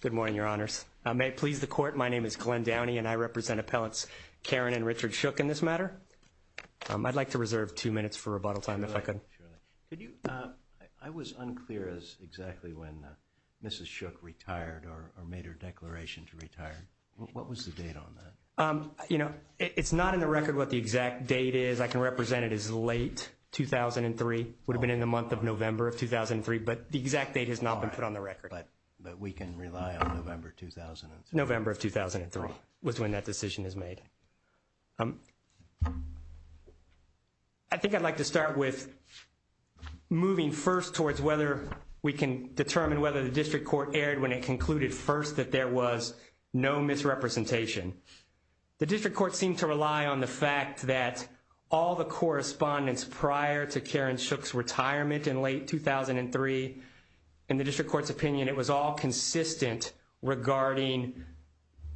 Good morning, Your Honors. May it please the Court, my name is Glenn Downey, and I represent appellants Karen and Richard Shook in this matter. I'd like to reserve two minutes for rebuttal time, if I could. Surely. I was unclear as to exactly when Mrs. Shook retired or made her declaration to retire. What was the date on that? It's not in the record what the exact date is. I can represent it as late 2003. It would be November of 2003, but the exact date has not been put on the record. All right, but we can rely on November 2003. November of 2003 was when that decision is made. I think I'd like to start with moving first towards whether we can determine whether the District Court erred when it concluded first that there was no misrepresentation. The District Court seemed to rely on the fact that all the correspondence prior to Karen Shook's retirement in late 2003, in the District Court's opinion, it was all consistent regarding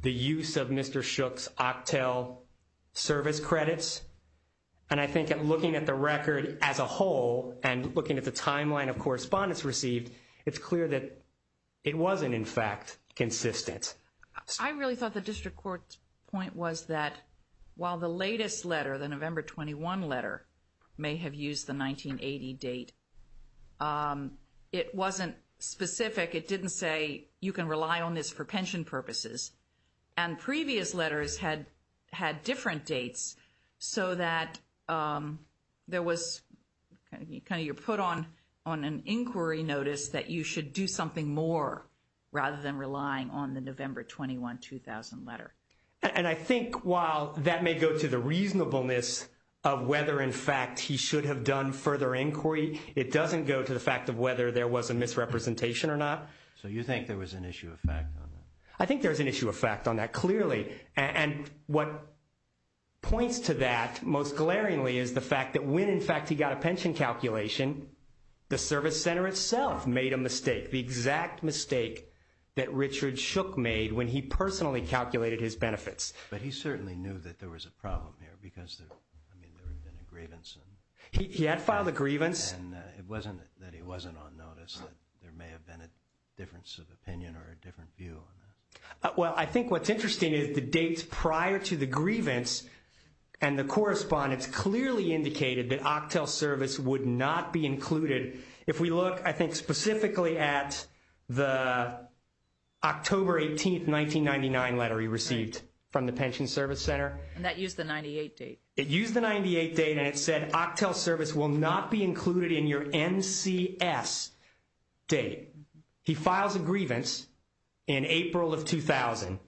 the use of Mr. Shook's octel service credits. And I think looking at the record as a whole and looking at the timeline of correspondence received, it's clear that it wasn't, in fact, consistent. I really thought the District Court's point was that while the latest letter, the November 21 letter, may have used the 1980 date, it wasn't specific. It didn't say you can rely on this for pension purposes. And previous letters had different dates so that there was kind of your put on an inquiry notice that you should do something more rather than relying on the November 21, 2000 letter. And I think while that may go to the reasonableness of whether, in fact, he should have done further inquiry, it doesn't go to the fact of whether there was a misrepresentation or not. So you think there was an issue of fact on that? I think there was an issue of fact on that, clearly. And what points to that most glaringly is the fact that when, in fact, he got a pension calculation, the service center itself made a mistake, the exact mistake that Richard Shook made when he personally calculated his benefits. But he certainly knew that there was a problem here because there had been a grievance. He had filed a grievance. And it wasn't that he wasn't on notice. There may have been a difference of opinion or a different view on that. Well, I think what's interesting is the dates prior to the grievance and the correspondence clearly indicated that octel service would not be included. If we look, I think, specifically at the October 18, 1999 letter he received from the pension service center. And that used the 98 date. It used the 98 date and it said octel service will not be included in your NCS date. He files a grievance in April of 2000.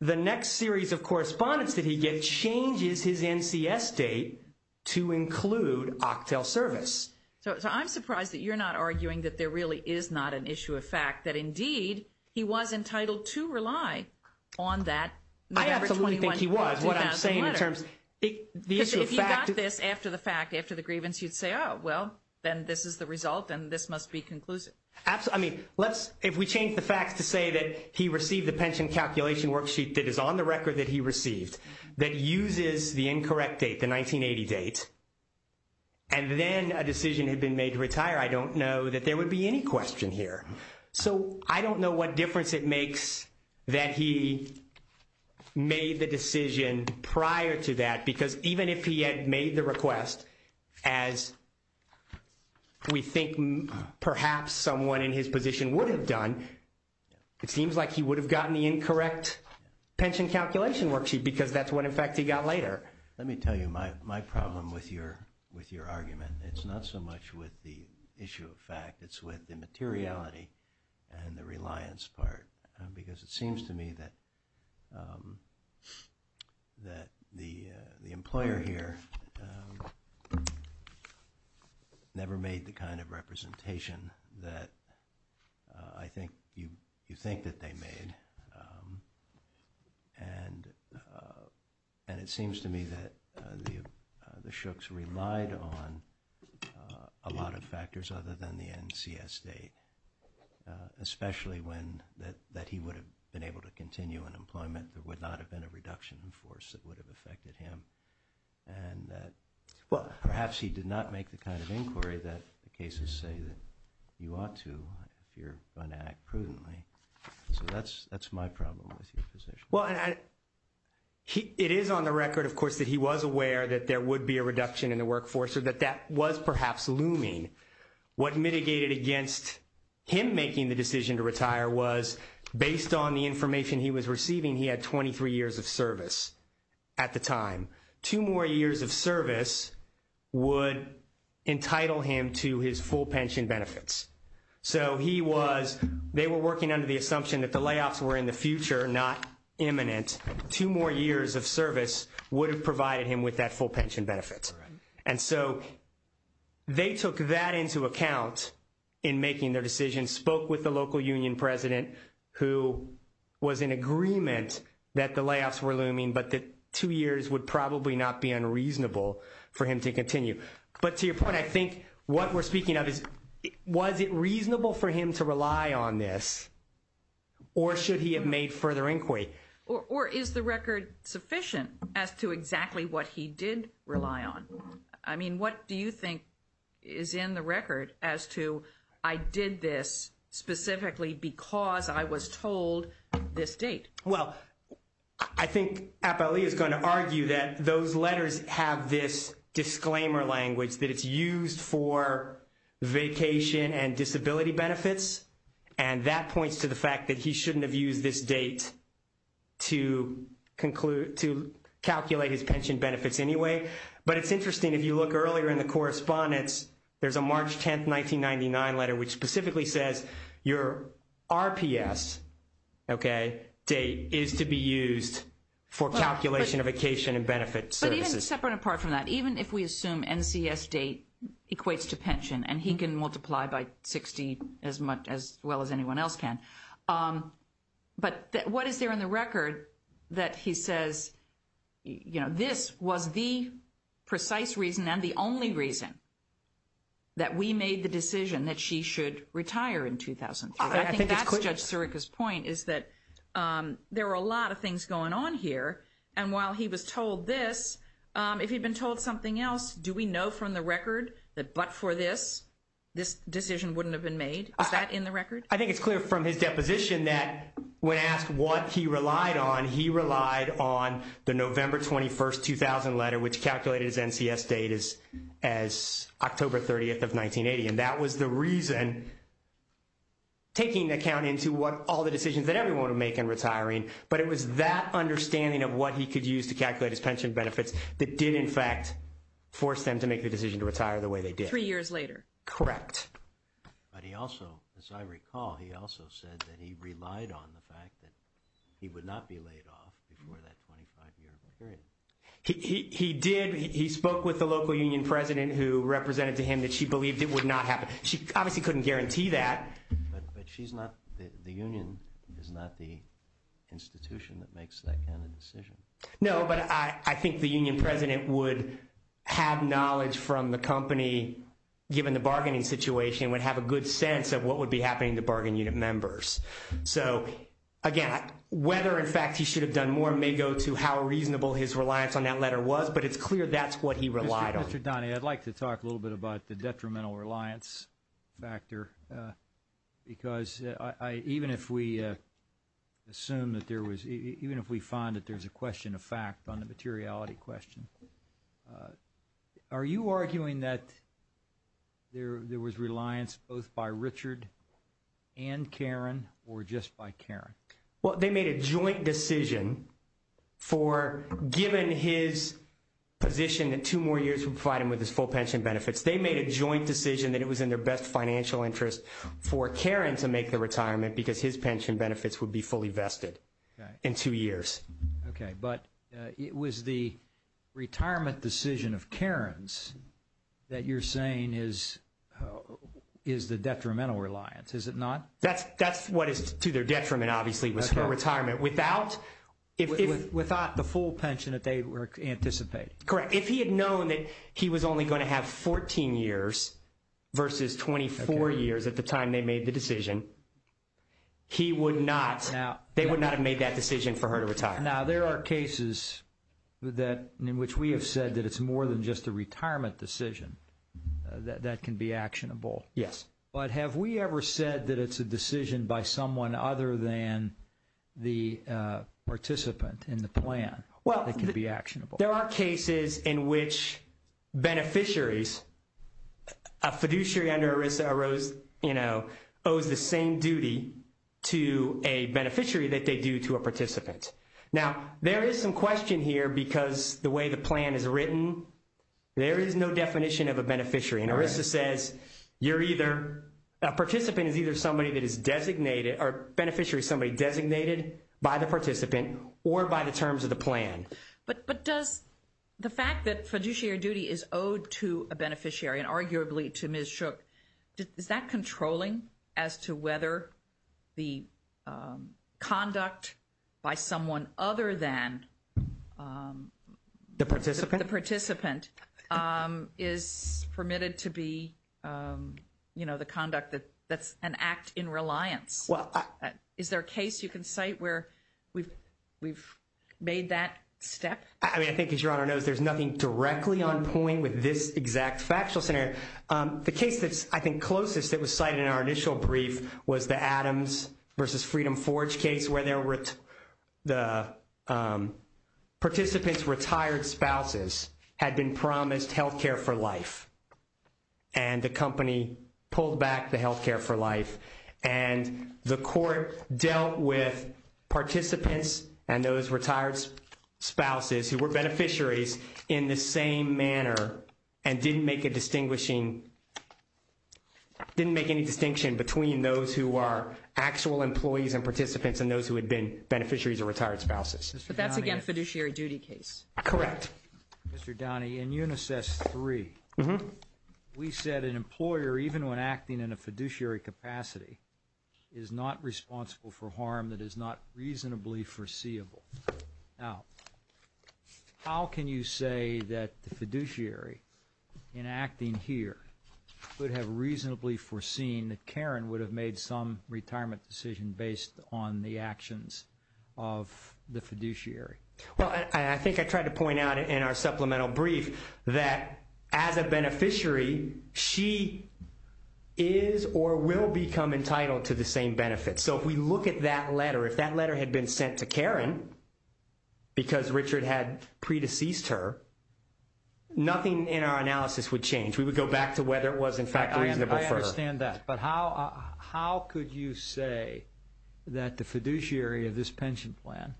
The next series of correspondence that he gets changes his NCS date to include octel service. So I'm surprised that you're not arguing that there really is not an issue of fact that, indeed, he was entitled to rely on that November 21, 2000 letter. I absolutely think he was. What I'm saying in terms of the issue of fact. Because if you got this after the fact, after the grievance, you'd say, oh, well, then this is the result and this must be conclusive. If we change the facts to say that he received the pension calculation worksheet that is on the record that he received that uses the incorrect date, the 1980 date, and then a decision had been made to retire, I don't know that there would be any question here. So I don't know what difference it makes that he made the decision prior to that. Because even if he had made the request as we think perhaps someone in his position would have done, it seems like he would have gotten the incorrect pension calculation worksheet because that's what, in fact, he got later. Let me tell you my problem with your argument. It's not so much with the issue of fact. It's with the materiality and the reliance part. Because it seems to me that the employer here never made the kind of representation that I think you think that they made. And it seems to me that the Shooks relied on a lot of factors other than the NCS date, especially when that he would have been able to continue in employment. There would not have been a reduction in force that would have affected him. And perhaps he did not make the kind of inquiry that the cases say that you ought to if you're going to act prudently. So that's my problem with your position. Well, it is on the record, of course, that he was aware that there would be a reduction in the workforce or that that was perhaps looming. What mitigated against him making the decision to retire was based on the information he was receiving, he had 23 years of service at the time. Two more years of service would entitle him to his full pension benefits. So they were working under the assumption that the layoffs were in the future, not imminent. Two more years of service would have provided him with that full pension benefit. And so they took that into account in making their decision, spoke with the local union president, who was in agreement that the layoffs were looming, but that two years would probably not be unreasonable for him to continue. But to your point, I think what we're speaking of is, was it reasonable for him to rely on this, or should he have made further inquiry? Or is the record sufficient as to exactly what he did rely on? I mean, what do you think is in the record as to, I did this specifically because I was told this date? Well, I think Appali is going to argue that those letters have this disclaimer language, that it's used for vacation and disability benefits, and that points to the fact that he shouldn't have used this date to calculate his pension benefits anyway. But it's interesting, if you look earlier in the correspondence, there's a March 10, 1999 letter, which specifically says your RPS date is to be used for calculation of vacation and benefit services. But even separate and apart from that, even if we assume NCS date equates to pension and he can multiply by 60 as well as anyone else can. But what is there in the record that he says, you know, this was the precise reason and the only reason that we made the decision that she should retire in 2003? I think that's Judge Sirica's point, is that there were a lot of things going on here, and while he was told this, if he'd been told something else, do we know from the record that but for this, this decision wouldn't have been made? Is that in the record? I think it's clear from his deposition that when asked what he relied on, he relied on the November 21, 2000 letter, which calculated his NCS date as October 30, 1980. And that was the reason taking account into what all the decisions that everyone would make in retiring, but it was that understanding of what he could use to calculate his pension benefits that did in fact force them to make the decision to retire the way they did. Three years later. Correct. But he also, as I recall, he also said that he relied on the fact that he would not be laid off before that 25-year period. He did. He spoke with the local union president who represented to him that she believed it would not happen. She obviously couldn't guarantee that. But she's not, the union is not the institution that makes that kind of decision. No, but I think the union president would have knowledge from the company given the bargaining situation and would have a good sense of what would be happening to bargain unit members. So, again, whether in fact he should have done more may go to how reasonable his reliance on that letter was, but it's clear that's what he relied on. Mr. Donahue, I'd like to talk a little bit about the detrimental reliance factor, because even if we assume that there was, even if we find that there's a question of fact on the materiality question, are you arguing that there was reliance both by Richard and Karen or just by Karen? Well, they made a joint decision for, given his position that two more years would provide him with his full pension benefits, they made a joint decision that it was in their best financial interest for Karen to make the retirement because his pension benefits would be fully vested in two years. Okay, but it was the retirement decision of Karen's that you're saying is the detrimental reliance, is it not? That's what is to their detriment, obviously, was her retirement. Without the full pension that they were anticipating. Correct. If he had known that he was only going to have 14 years versus 24 years at the time they made the decision, they would not have made that decision for her to retire. Now, there are cases in which we have said that it's more than just a retirement decision that can be actionable. Yes. But have we ever said that it's a decision by someone other than the participant in the plan that can be actionable? There are cases in which beneficiaries, a fiduciary under ERISA owes the same duty to a beneficiary that they do to a participant. Now, there is some question here because the way the plan is written, there is no definition of a beneficiary, and ERISA says you're either, a participant is either somebody that is designated, or a beneficiary is somebody designated by the participant or by the terms of the plan. But does the fact that fiduciary duty is owed to a beneficiary and arguably to Ms. Shook, is that controlling as to whether the conduct by someone other than the participant is permitted to be the conduct that's an act in reliance? Is there a case you can cite where we've made that step? I mean, I think as Your Honor knows, there's nothing directly on point with this exact factual scenario. The case that's, I think, closest that was cited in our initial brief was the Adams versus Freedom Forge case where the participant's retired spouses had been promised health care for life, and the company pulled back the health care for life. And the court dealt with participants and those retired spouses who were beneficiaries in the same manner and didn't make a distinguishing, didn't make any distinction between those who are actual employees and participants and those who had been beneficiaries or retired spouses. But that's, again, a fiduciary duty case. Correct. Mr. Downey, in UNICEF's three, we said an employer, even when acting in a fiduciary capacity, is not responsible for harm that is not reasonably foreseeable. Now, how can you say that the fiduciary, in acting here, would have reasonably foreseen that Karen would have made some retirement decision based on the actions of the fiduciary? Well, I think I tried to point out in our supplemental brief that as a beneficiary, she is or will become entitled to the same benefits. So if we look at that letter, if that letter had been sent to Karen because Richard had pre-deceased her, nothing in our analysis would change. We would go back to whether it was, in fact, reasonable for her. I understand that. But how could you say that the fiduciary of this pension plan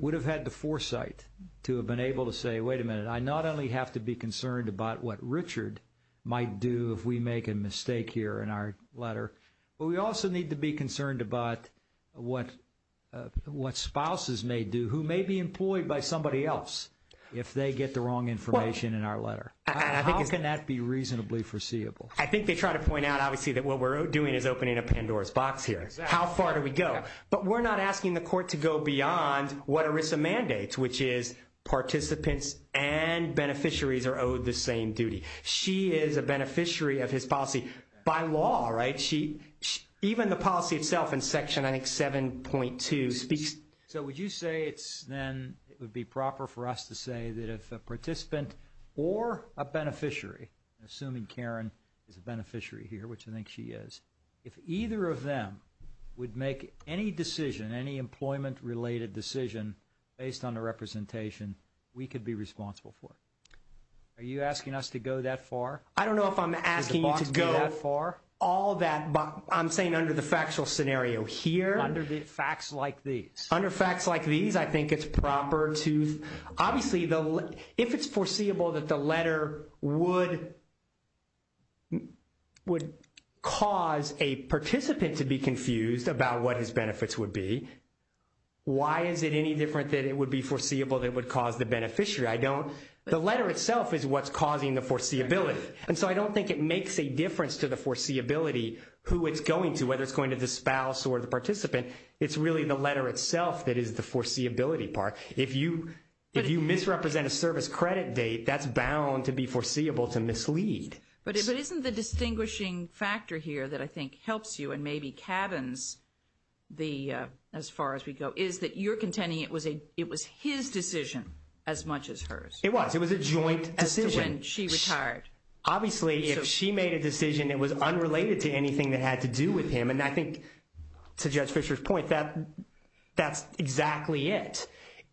would have had the foresight to have been able to say, wait a minute, I not only have to be concerned about what Richard might do if we make a mistake here in our letter, but we also need to be concerned about what spouses may do, who may be employed by somebody else if they get the wrong information in our letter. How can that be reasonably foreseeable? I think they try to point out, obviously, that what we're doing is opening a Pandora's box here. How far do we go? But we're not asking the court to go beyond what ERISA mandates, which is participants and beneficiaries are owed the same duty. She is a beneficiary of his policy by law, right? Even the policy itself in Section, I think, 7.2 speaks. So would you say then it would be proper for us to say that if a participant or a beneficiary, assuming Karen is a beneficiary here, which I think she is, if either of them would make any decision, any employment-related decision based on the representation, we could be responsible for it? Are you asking us to go that far? I don't know if I'm asking you to go all that. I'm saying under the factual scenario here. Under facts like these. Under facts like these, I think it's proper to – obviously, if it's foreseeable that the letter would cause a participant to be confused about what his benefits would be, why is it any different that it would be foreseeable that it would cause the beneficiary? The letter itself is what's causing the foreseeability. And so I don't think it makes a difference to the foreseeability who it's going to, whether it's going to the spouse or the participant. It's really the letter itself that is the foreseeability part. If you misrepresent a service credit date, that's bound to be foreseeable to mislead. But isn't the distinguishing factor here that I think helps you and maybe cabins as far as we go is that you're contending it was his decision as much as hers? It was. It was a joint decision. When she retired. Obviously, if she made a decision that was unrelated to anything that had to do with him, and I think to Judge Fischer's point, that's exactly it.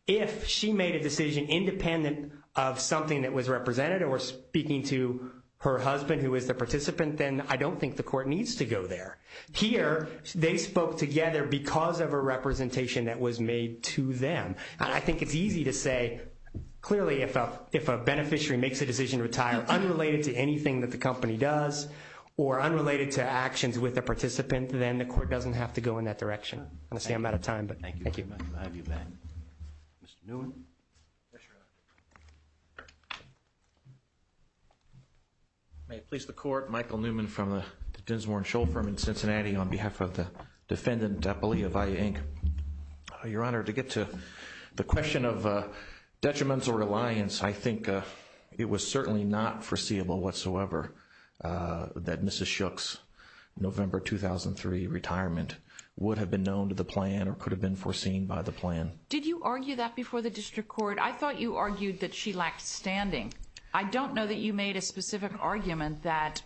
If she made a decision independent of something that was represented or speaking to her husband who was the participant, then I don't think the court needs to go there. Here, they spoke together because of a representation that was made to them. I think it's easy to say, clearly, if a beneficiary makes a decision to retire unrelated to anything that the company does or unrelated to actions with a participant, then the court doesn't have to go in that direction. I'm going to say I'm out of time, but thank you. Thank you, Ben. Mr. Newman? May it please the Court, Michael Newman from the Dinsmore & Scholl firm in Cincinnati on behalf of the defendant, Belia Valle, Inc. Your Honor, to get to the question of detrimental reliance, I think it was certainly not foreseeable whatsoever that Mrs. Schuch's November 2003 retirement would have been known to the plan or could have been foreseen by the plan. Did you argue that before the district court? I thought you argued that she lacked standing. I don't know that you made a specific argument that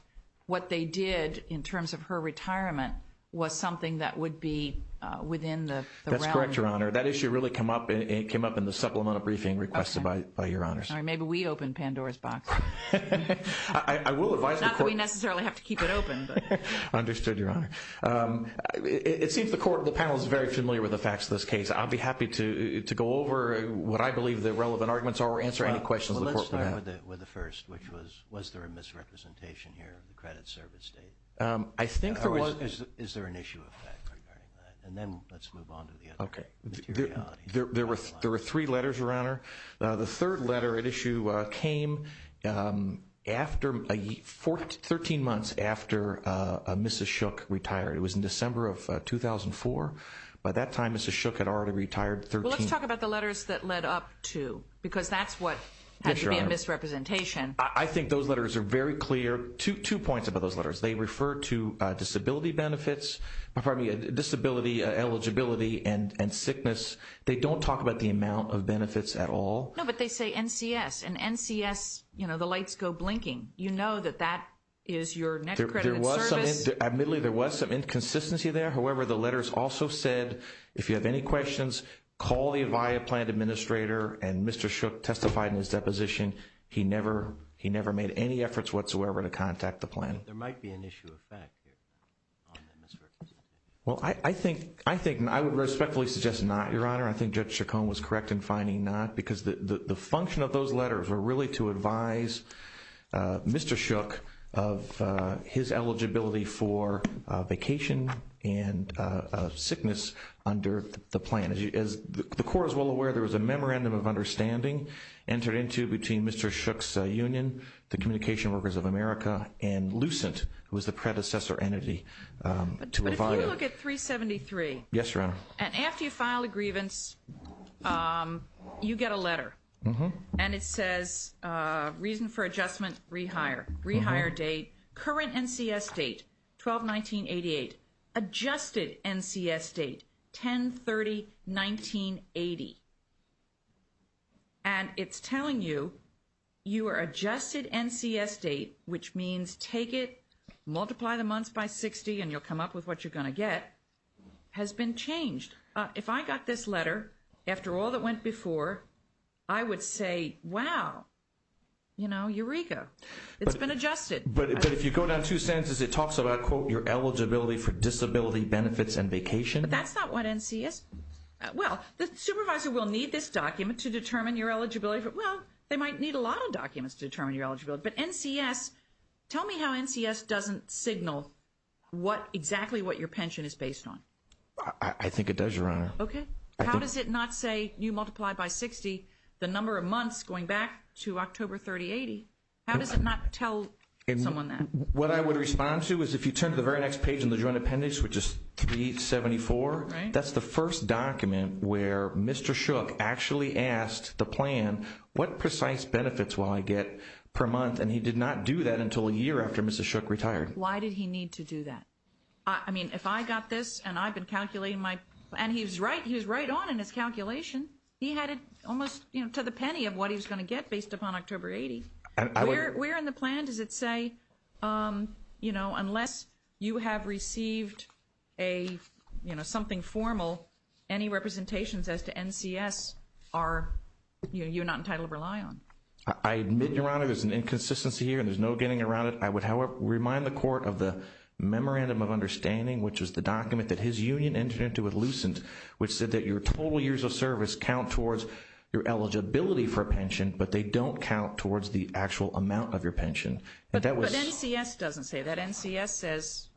what they did in terms of her retirement was something that would be within the realm. That's correct, Your Honor. That issue really came up in the supplemental briefing requested by Your Honors. Maybe we opened Pandora's box. Not that we necessarily have to keep it open. Understood, Your Honor. It seems the panel is very familiar with the facts of this case. I'll be happy to go over what I believe the relevant arguments are or answer any questions the court may have. Let's start with the first, which was, was there a misrepresentation here of the credit service date? I think there was. Is there an issue with that? And then let's move on to the other materiality. There were three letters, Your Honor. The third letter at issue came 13 months after Mrs. Schuch retired. It was in December of 2004. By that time, Mrs. Schuch had already retired. Let's talk about the letters that led up to, because that's what had to be a misrepresentation. I think those letters are very clear. Two points about those letters. They refer to disability benefits, disability eligibility and sickness. They don't talk about the amount of benefits at all. No, but they say NCS. And NCS, you know, the lights go blinking. You know that that is your net credit service. Admittedly, there was some inconsistency there. However, the letters also said, if you have any questions, call the Avaya plan administrator. And Mr. Schuch testified in his deposition he never made any efforts whatsoever to contact the plan. So there might be an issue of fact here on the misrepresentation. Well, I think I would respectfully suggest not, Your Honor. I think Judge Chacon was correct in finding not, because the function of those letters were really to advise Mr. Schuch of his eligibility for vacation and sickness under the plan. As the Court is well aware, there was a memorandum of understanding entered into between Mr. Schuch's union, the Communication Workers of America, and Lucent, who was the predecessor entity to Avaya. But if you look at 373. Yes, Your Honor. And after you file a grievance, you get a letter. And it says, reason for adjustment, rehire. Rehire date. Current NCS date, 12-19-88. Adjusted NCS date, 10-30-1988. And it's telling you, your adjusted NCS date, which means take it, multiply the months by 60, and you'll come up with what you're going to get, has been changed. If I got this letter, after all that went before, I would say, wow, you know, eureka. It's been adjusted. But if you go down two sentences, it talks about, quote, your eligibility for disability benefits and vacation. But that's not what NCS. Well, the supervisor will need this document to determine your eligibility. Well, they might need a lot of documents to determine your eligibility. But NCS, tell me how NCS doesn't signal exactly what your pension is based on. I think it does, Your Honor. Okay. How does it not say you multiply by 60 the number of months going back to October 3080? How does it not tell someone that? What I would respond to is if you turn to the very next page in the Joint Appendix, which is 3-8-74. That's the first document where Mr. Shook actually asked the plan, what precise benefits will I get per month? And he did not do that until a year after Mrs. Shook retired. Why did he need to do that? I mean, if I got this and I've been calculating my – and he was right on in his calculation. He had it almost, you know, to the penny of what he was going to get based upon October 80. Where in the plan does it say, you know, unless you have received a, you know, something formal, any representations as to NCS are – you're not entitled to rely on? I admit, Your Honor, there's an inconsistency here and there's no getting around it. I would, however, remind the Court of the Memorandum of Understanding, which was the document that his union entered into with Lucent, which said that your total years of service count towards your eligibility for a pension, but they don't count towards the actual amount of your pension. But NCS doesn't say that. NCS says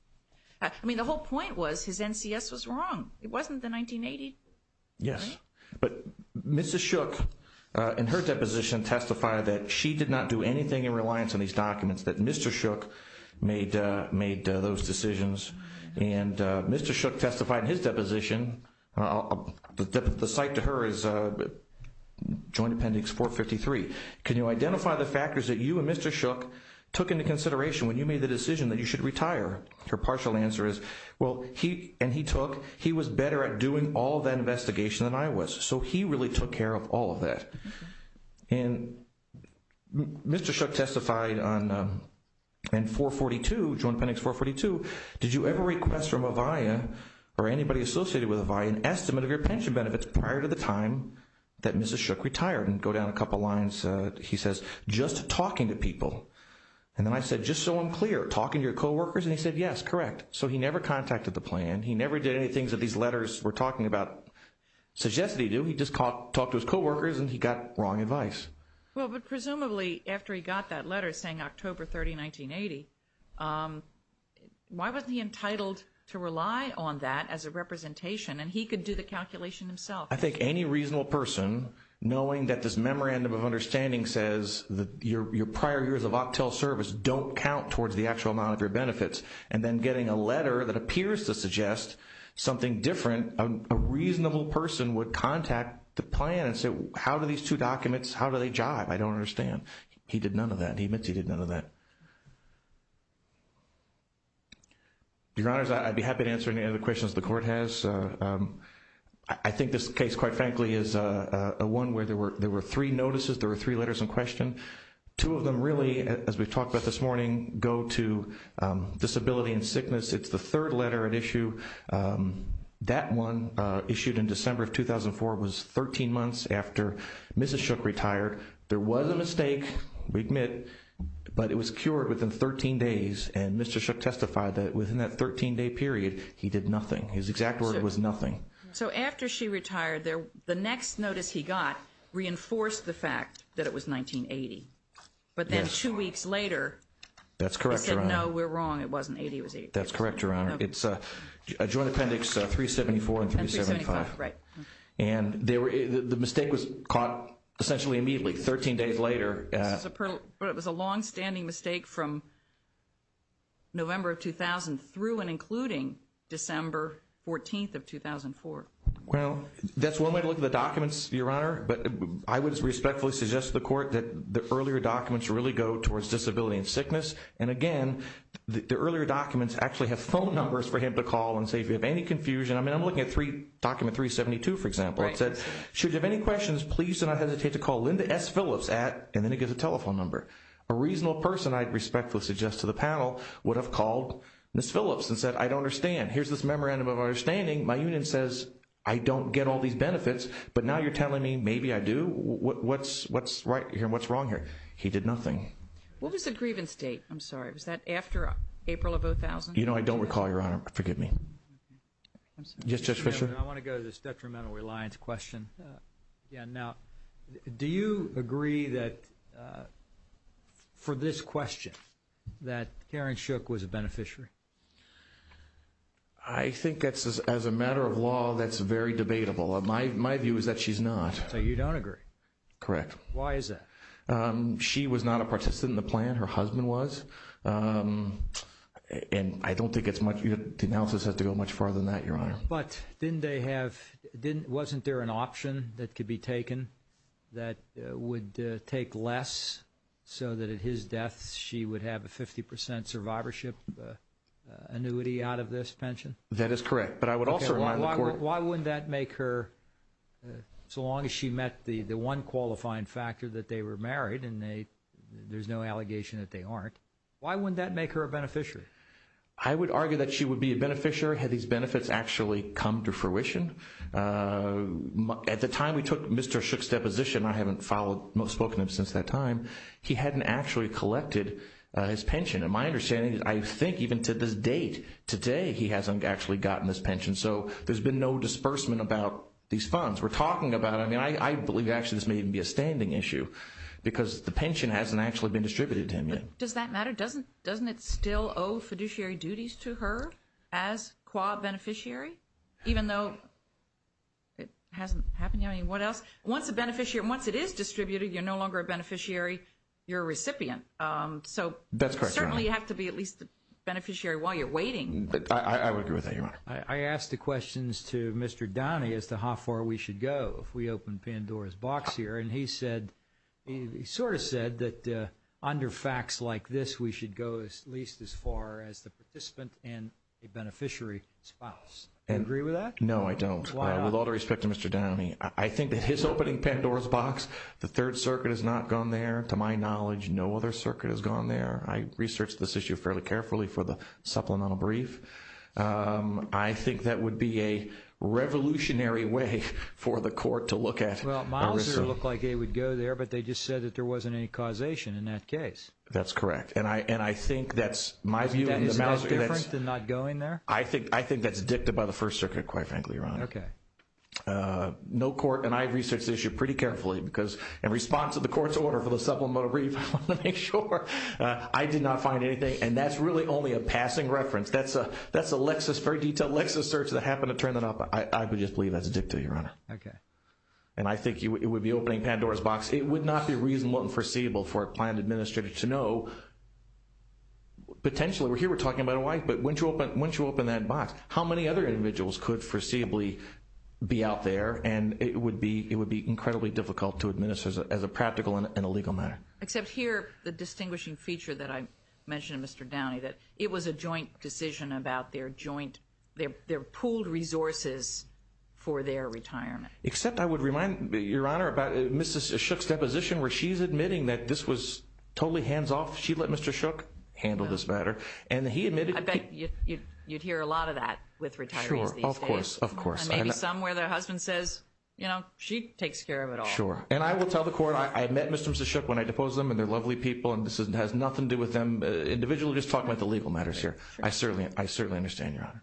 – I mean, the whole point was his NCS was wrong. It wasn't the 1980. Yes, but Mrs. Shook in her deposition testified that she did not do anything in reliance on these documents, that Mr. Shook made those decisions. And Mr. Shook testified in his deposition – the cite to her is Joint Appendix 453. Can you identify the factors that you and Mr. Shook took into consideration when you made the decision that you should retire? Her partial answer is, well, he – and he took – he was better at doing all that investigation than I was. So he really took care of all of that. And Mr. Shook testified on – in 442, Joint Appendix 442, did you ever request from Avaya or anybody associated with Avaya an estimate of your pension benefits prior to the time that Mrs. Shook retired? And go down a couple lines. He says, just talking to people. And then I said, just so I'm clear, talking to your coworkers? And he said, yes, correct. So he never contacted the plan. He never did anything that these letters were talking about suggested he do. He just talked to his coworkers, and he got wrong advice. Well, but presumably, after he got that letter saying October 30, 1980, why wasn't he entitled to rely on that as a representation? And he could do the calculation himself. I think any reasonable person, knowing that this memorandum of understanding says that your prior years of octel service don't count towards the actual amount of your benefits, and then getting a letter that appears to suggest something different, a reasonable person would contact the plan and say, how do these two documents, how do they jive? I don't understand. He did none of that. He admits he did none of that. Your Honors, I'd be happy to answer any other questions the Court has. I think this case, quite frankly, is one where there were three notices, there were three letters in question. Two of them really, as we've talked about this morning, go to disability and sickness. It's the third letter at issue. That one, issued in December of 2004, was 13 months after Mrs. Shook retired. There was a mistake, we admit, but it was cured within 13 days, and Mr. Shook testified that within that 13-day period, he did nothing. His exact word was nothing. So after she retired, the next notice he got reinforced the fact that it was 1980. But then two weeks later, he said, no, we're wrong, it wasn't 1980. That's correct, Your Honor. It's Joint Appendix 374 and 375. And the mistake was caught essentially immediately, 13 days later. But it was a longstanding mistake from November of 2000 through and including December 14th of 2004. Well, that's one way to look at the documents, Your Honor. But I would respectfully suggest to the Court that the earlier documents really go towards disability and sickness. And again, the earlier documents actually have phone numbers for him to call and say if you have any confusion. I mean, I'm looking at Document 372, for example. It said, should you have any questions, please do not hesitate to call Linda S. Phillips at, and then it gives a telephone number. A reasonable person, I'd respectfully suggest to the panel, would have called Ms. Phillips and said, I don't understand. Here's this memorandum of understanding. My union says I don't get all these benefits, but now you're telling me maybe I do? What's right here and what's wrong here? He did nothing. What was the grievance date? I'm sorry, was that after April of 2000? You know, I don't recall, Your Honor. Forgive me. I'm sorry. Yes, Judge Fischer. I want to go to this detrimental reliance question again. Now, do you agree that, for this question, that Karen Shook was a beneficiary? I think that's, as a matter of law, that's very debatable. My view is that she's not. So you don't agree? Correct. Why is that? She was not a participant in the plan. Her husband was. But wasn't there an option that could be taken that would take less so that, at his death, she would have a 50 percent survivorship annuity out of this pension? That is correct. Why wouldn't that make her, so long as she met the one qualifying factor that they were married and there's no allegation that they aren't, why wouldn't that make her a beneficiary? I would argue that she would be a beneficiary had these benefits actually come to fruition. At the time we took Mr. Shook's deposition, I haven't spoken to him since that time, he hadn't actually collected his pension. And my understanding is I think even to this date, today, he hasn't actually gotten this pension. So there's been no disbursement about these funds. We're talking about, I mean, I believe actually this may even be a standing issue because the pension hasn't actually been distributed to him yet. Does that matter? Doesn't it still owe fiduciary duties to her as qua beneficiary, even though it hasn't happened yet? I mean, what else? Once a beneficiary, once it is distributed, you're no longer a beneficiary, you're a recipient. So certainly you have to be at least a beneficiary while you're waiting. I would agree with that, Your Honor. I asked the questions to Mr. Downey as to how far we should go if we open Pandora's box here. And he said, he sort of said that under facts like this, we should go at least as far as the participant and a beneficiary spouse. Do you agree with that? No, I don't. Why not? With all due respect to Mr. Downey, I think that his opening Pandora's box, the Third Circuit has not gone there. To my knowledge, no other circuit has gone there. I researched this issue fairly carefully for the supplemental brief. Well, Mouser looked like it would go there, but they just said that there wasn't any causation in that case. That's correct. And I think that's my view. Isn't that different than not going there? I think that's dicta by the First Circuit, quite frankly, Your Honor. Okay. No court, and I researched this issue pretty carefully because in response to the court's order for the supplemental brief, I want to make sure, I did not find anything. And that's really only a passing reference. That's a Lexis, very detailed Lexis search that happened to turn that up. I would just believe that's dicta, Your Honor. Okay. And I think it would be opening Pandora's box. It would not be reasonable and foreseeable for a planned administrator to know, potentially, here we're talking about a wife, but once you open that box, how many other individuals could foreseeably be out there, and it would be incredibly difficult to administer as a practical and a legal matter. Except here, the distinguishing feature that I mentioned to Mr. Downey, that it was a joint decision about their pooled resources for their retirement. Except I would remind you, Your Honor, about Mrs. Shook's deposition where she's admitting that this was totally hands-off. She let Mr. Shook handle this matter. And he admitted that he — I bet you'd hear a lot of that with retirees these days. Sure, of course, of course. And maybe some where their husband says, you know, she takes care of it all. Sure. And I will tell the court, I met Mr. and Mrs. Shook when I deposed them, and they're lovely people, and this has nothing to do with them. Individually, we're just talking about the legal matters here. I certainly understand, Your Honor.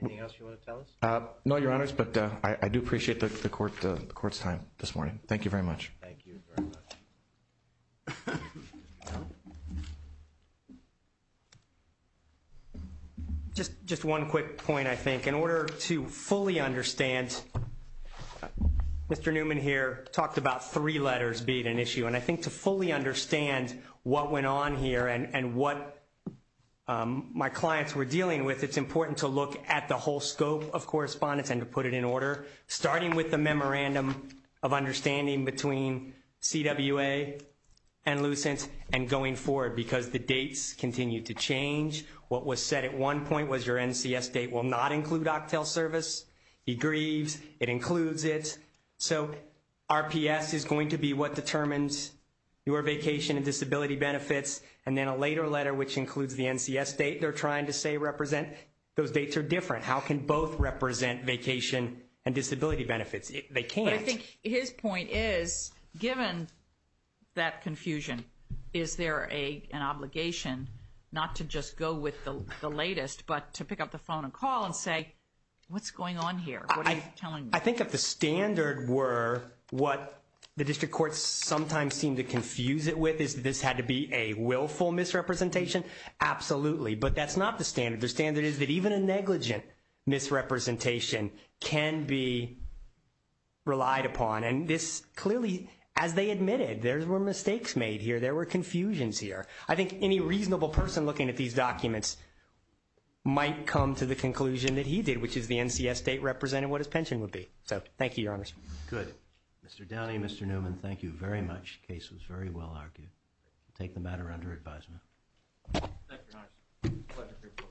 Anything else you want to tell us? No, Your Honors, but I do appreciate the court's time this morning. Thank you very much. Thank you very much. Just one quick point, I think. In order to fully understand — Mr. Newman here talked about three letters being an issue, and I think to fully understand what went on here and what my clients were dealing with, it's important to look at the whole scope of correspondence and to put it in order, starting with the memorandum of understanding between CWA and Lucent and going forward, because the dates continue to change. What was said at one point was your NCS date will not include octal service. He grieves. It includes it. So RPS is going to be what determines your vacation and disability benefits, and then a later letter, which includes the NCS date they're trying to say represent. Those dates are different. How can both represent vacation and disability benefits? They can't. But I think his point is, given that confusion, is there an obligation not to just go with the latest but to pick up the phone and call and say, what's going on here? What are you telling me? I think if the standard were what the district courts sometimes seem to confuse it with, is this had to be a willful misrepresentation, absolutely. But that's not the standard. The standard is that even a negligent misrepresentation can be relied upon. And this clearly, as they admitted, there were mistakes made here. There were confusions here. I think any reasonable person looking at these documents might come to the conclusion that he did, which is the NCS date represented what his pension would be. So thank you, Your Honor. Good. Mr. Downey, Mr. Newman, thank you very much. The case was very well argued. We'll take the matter under advisement. Thank you, Your Honor. Thank you.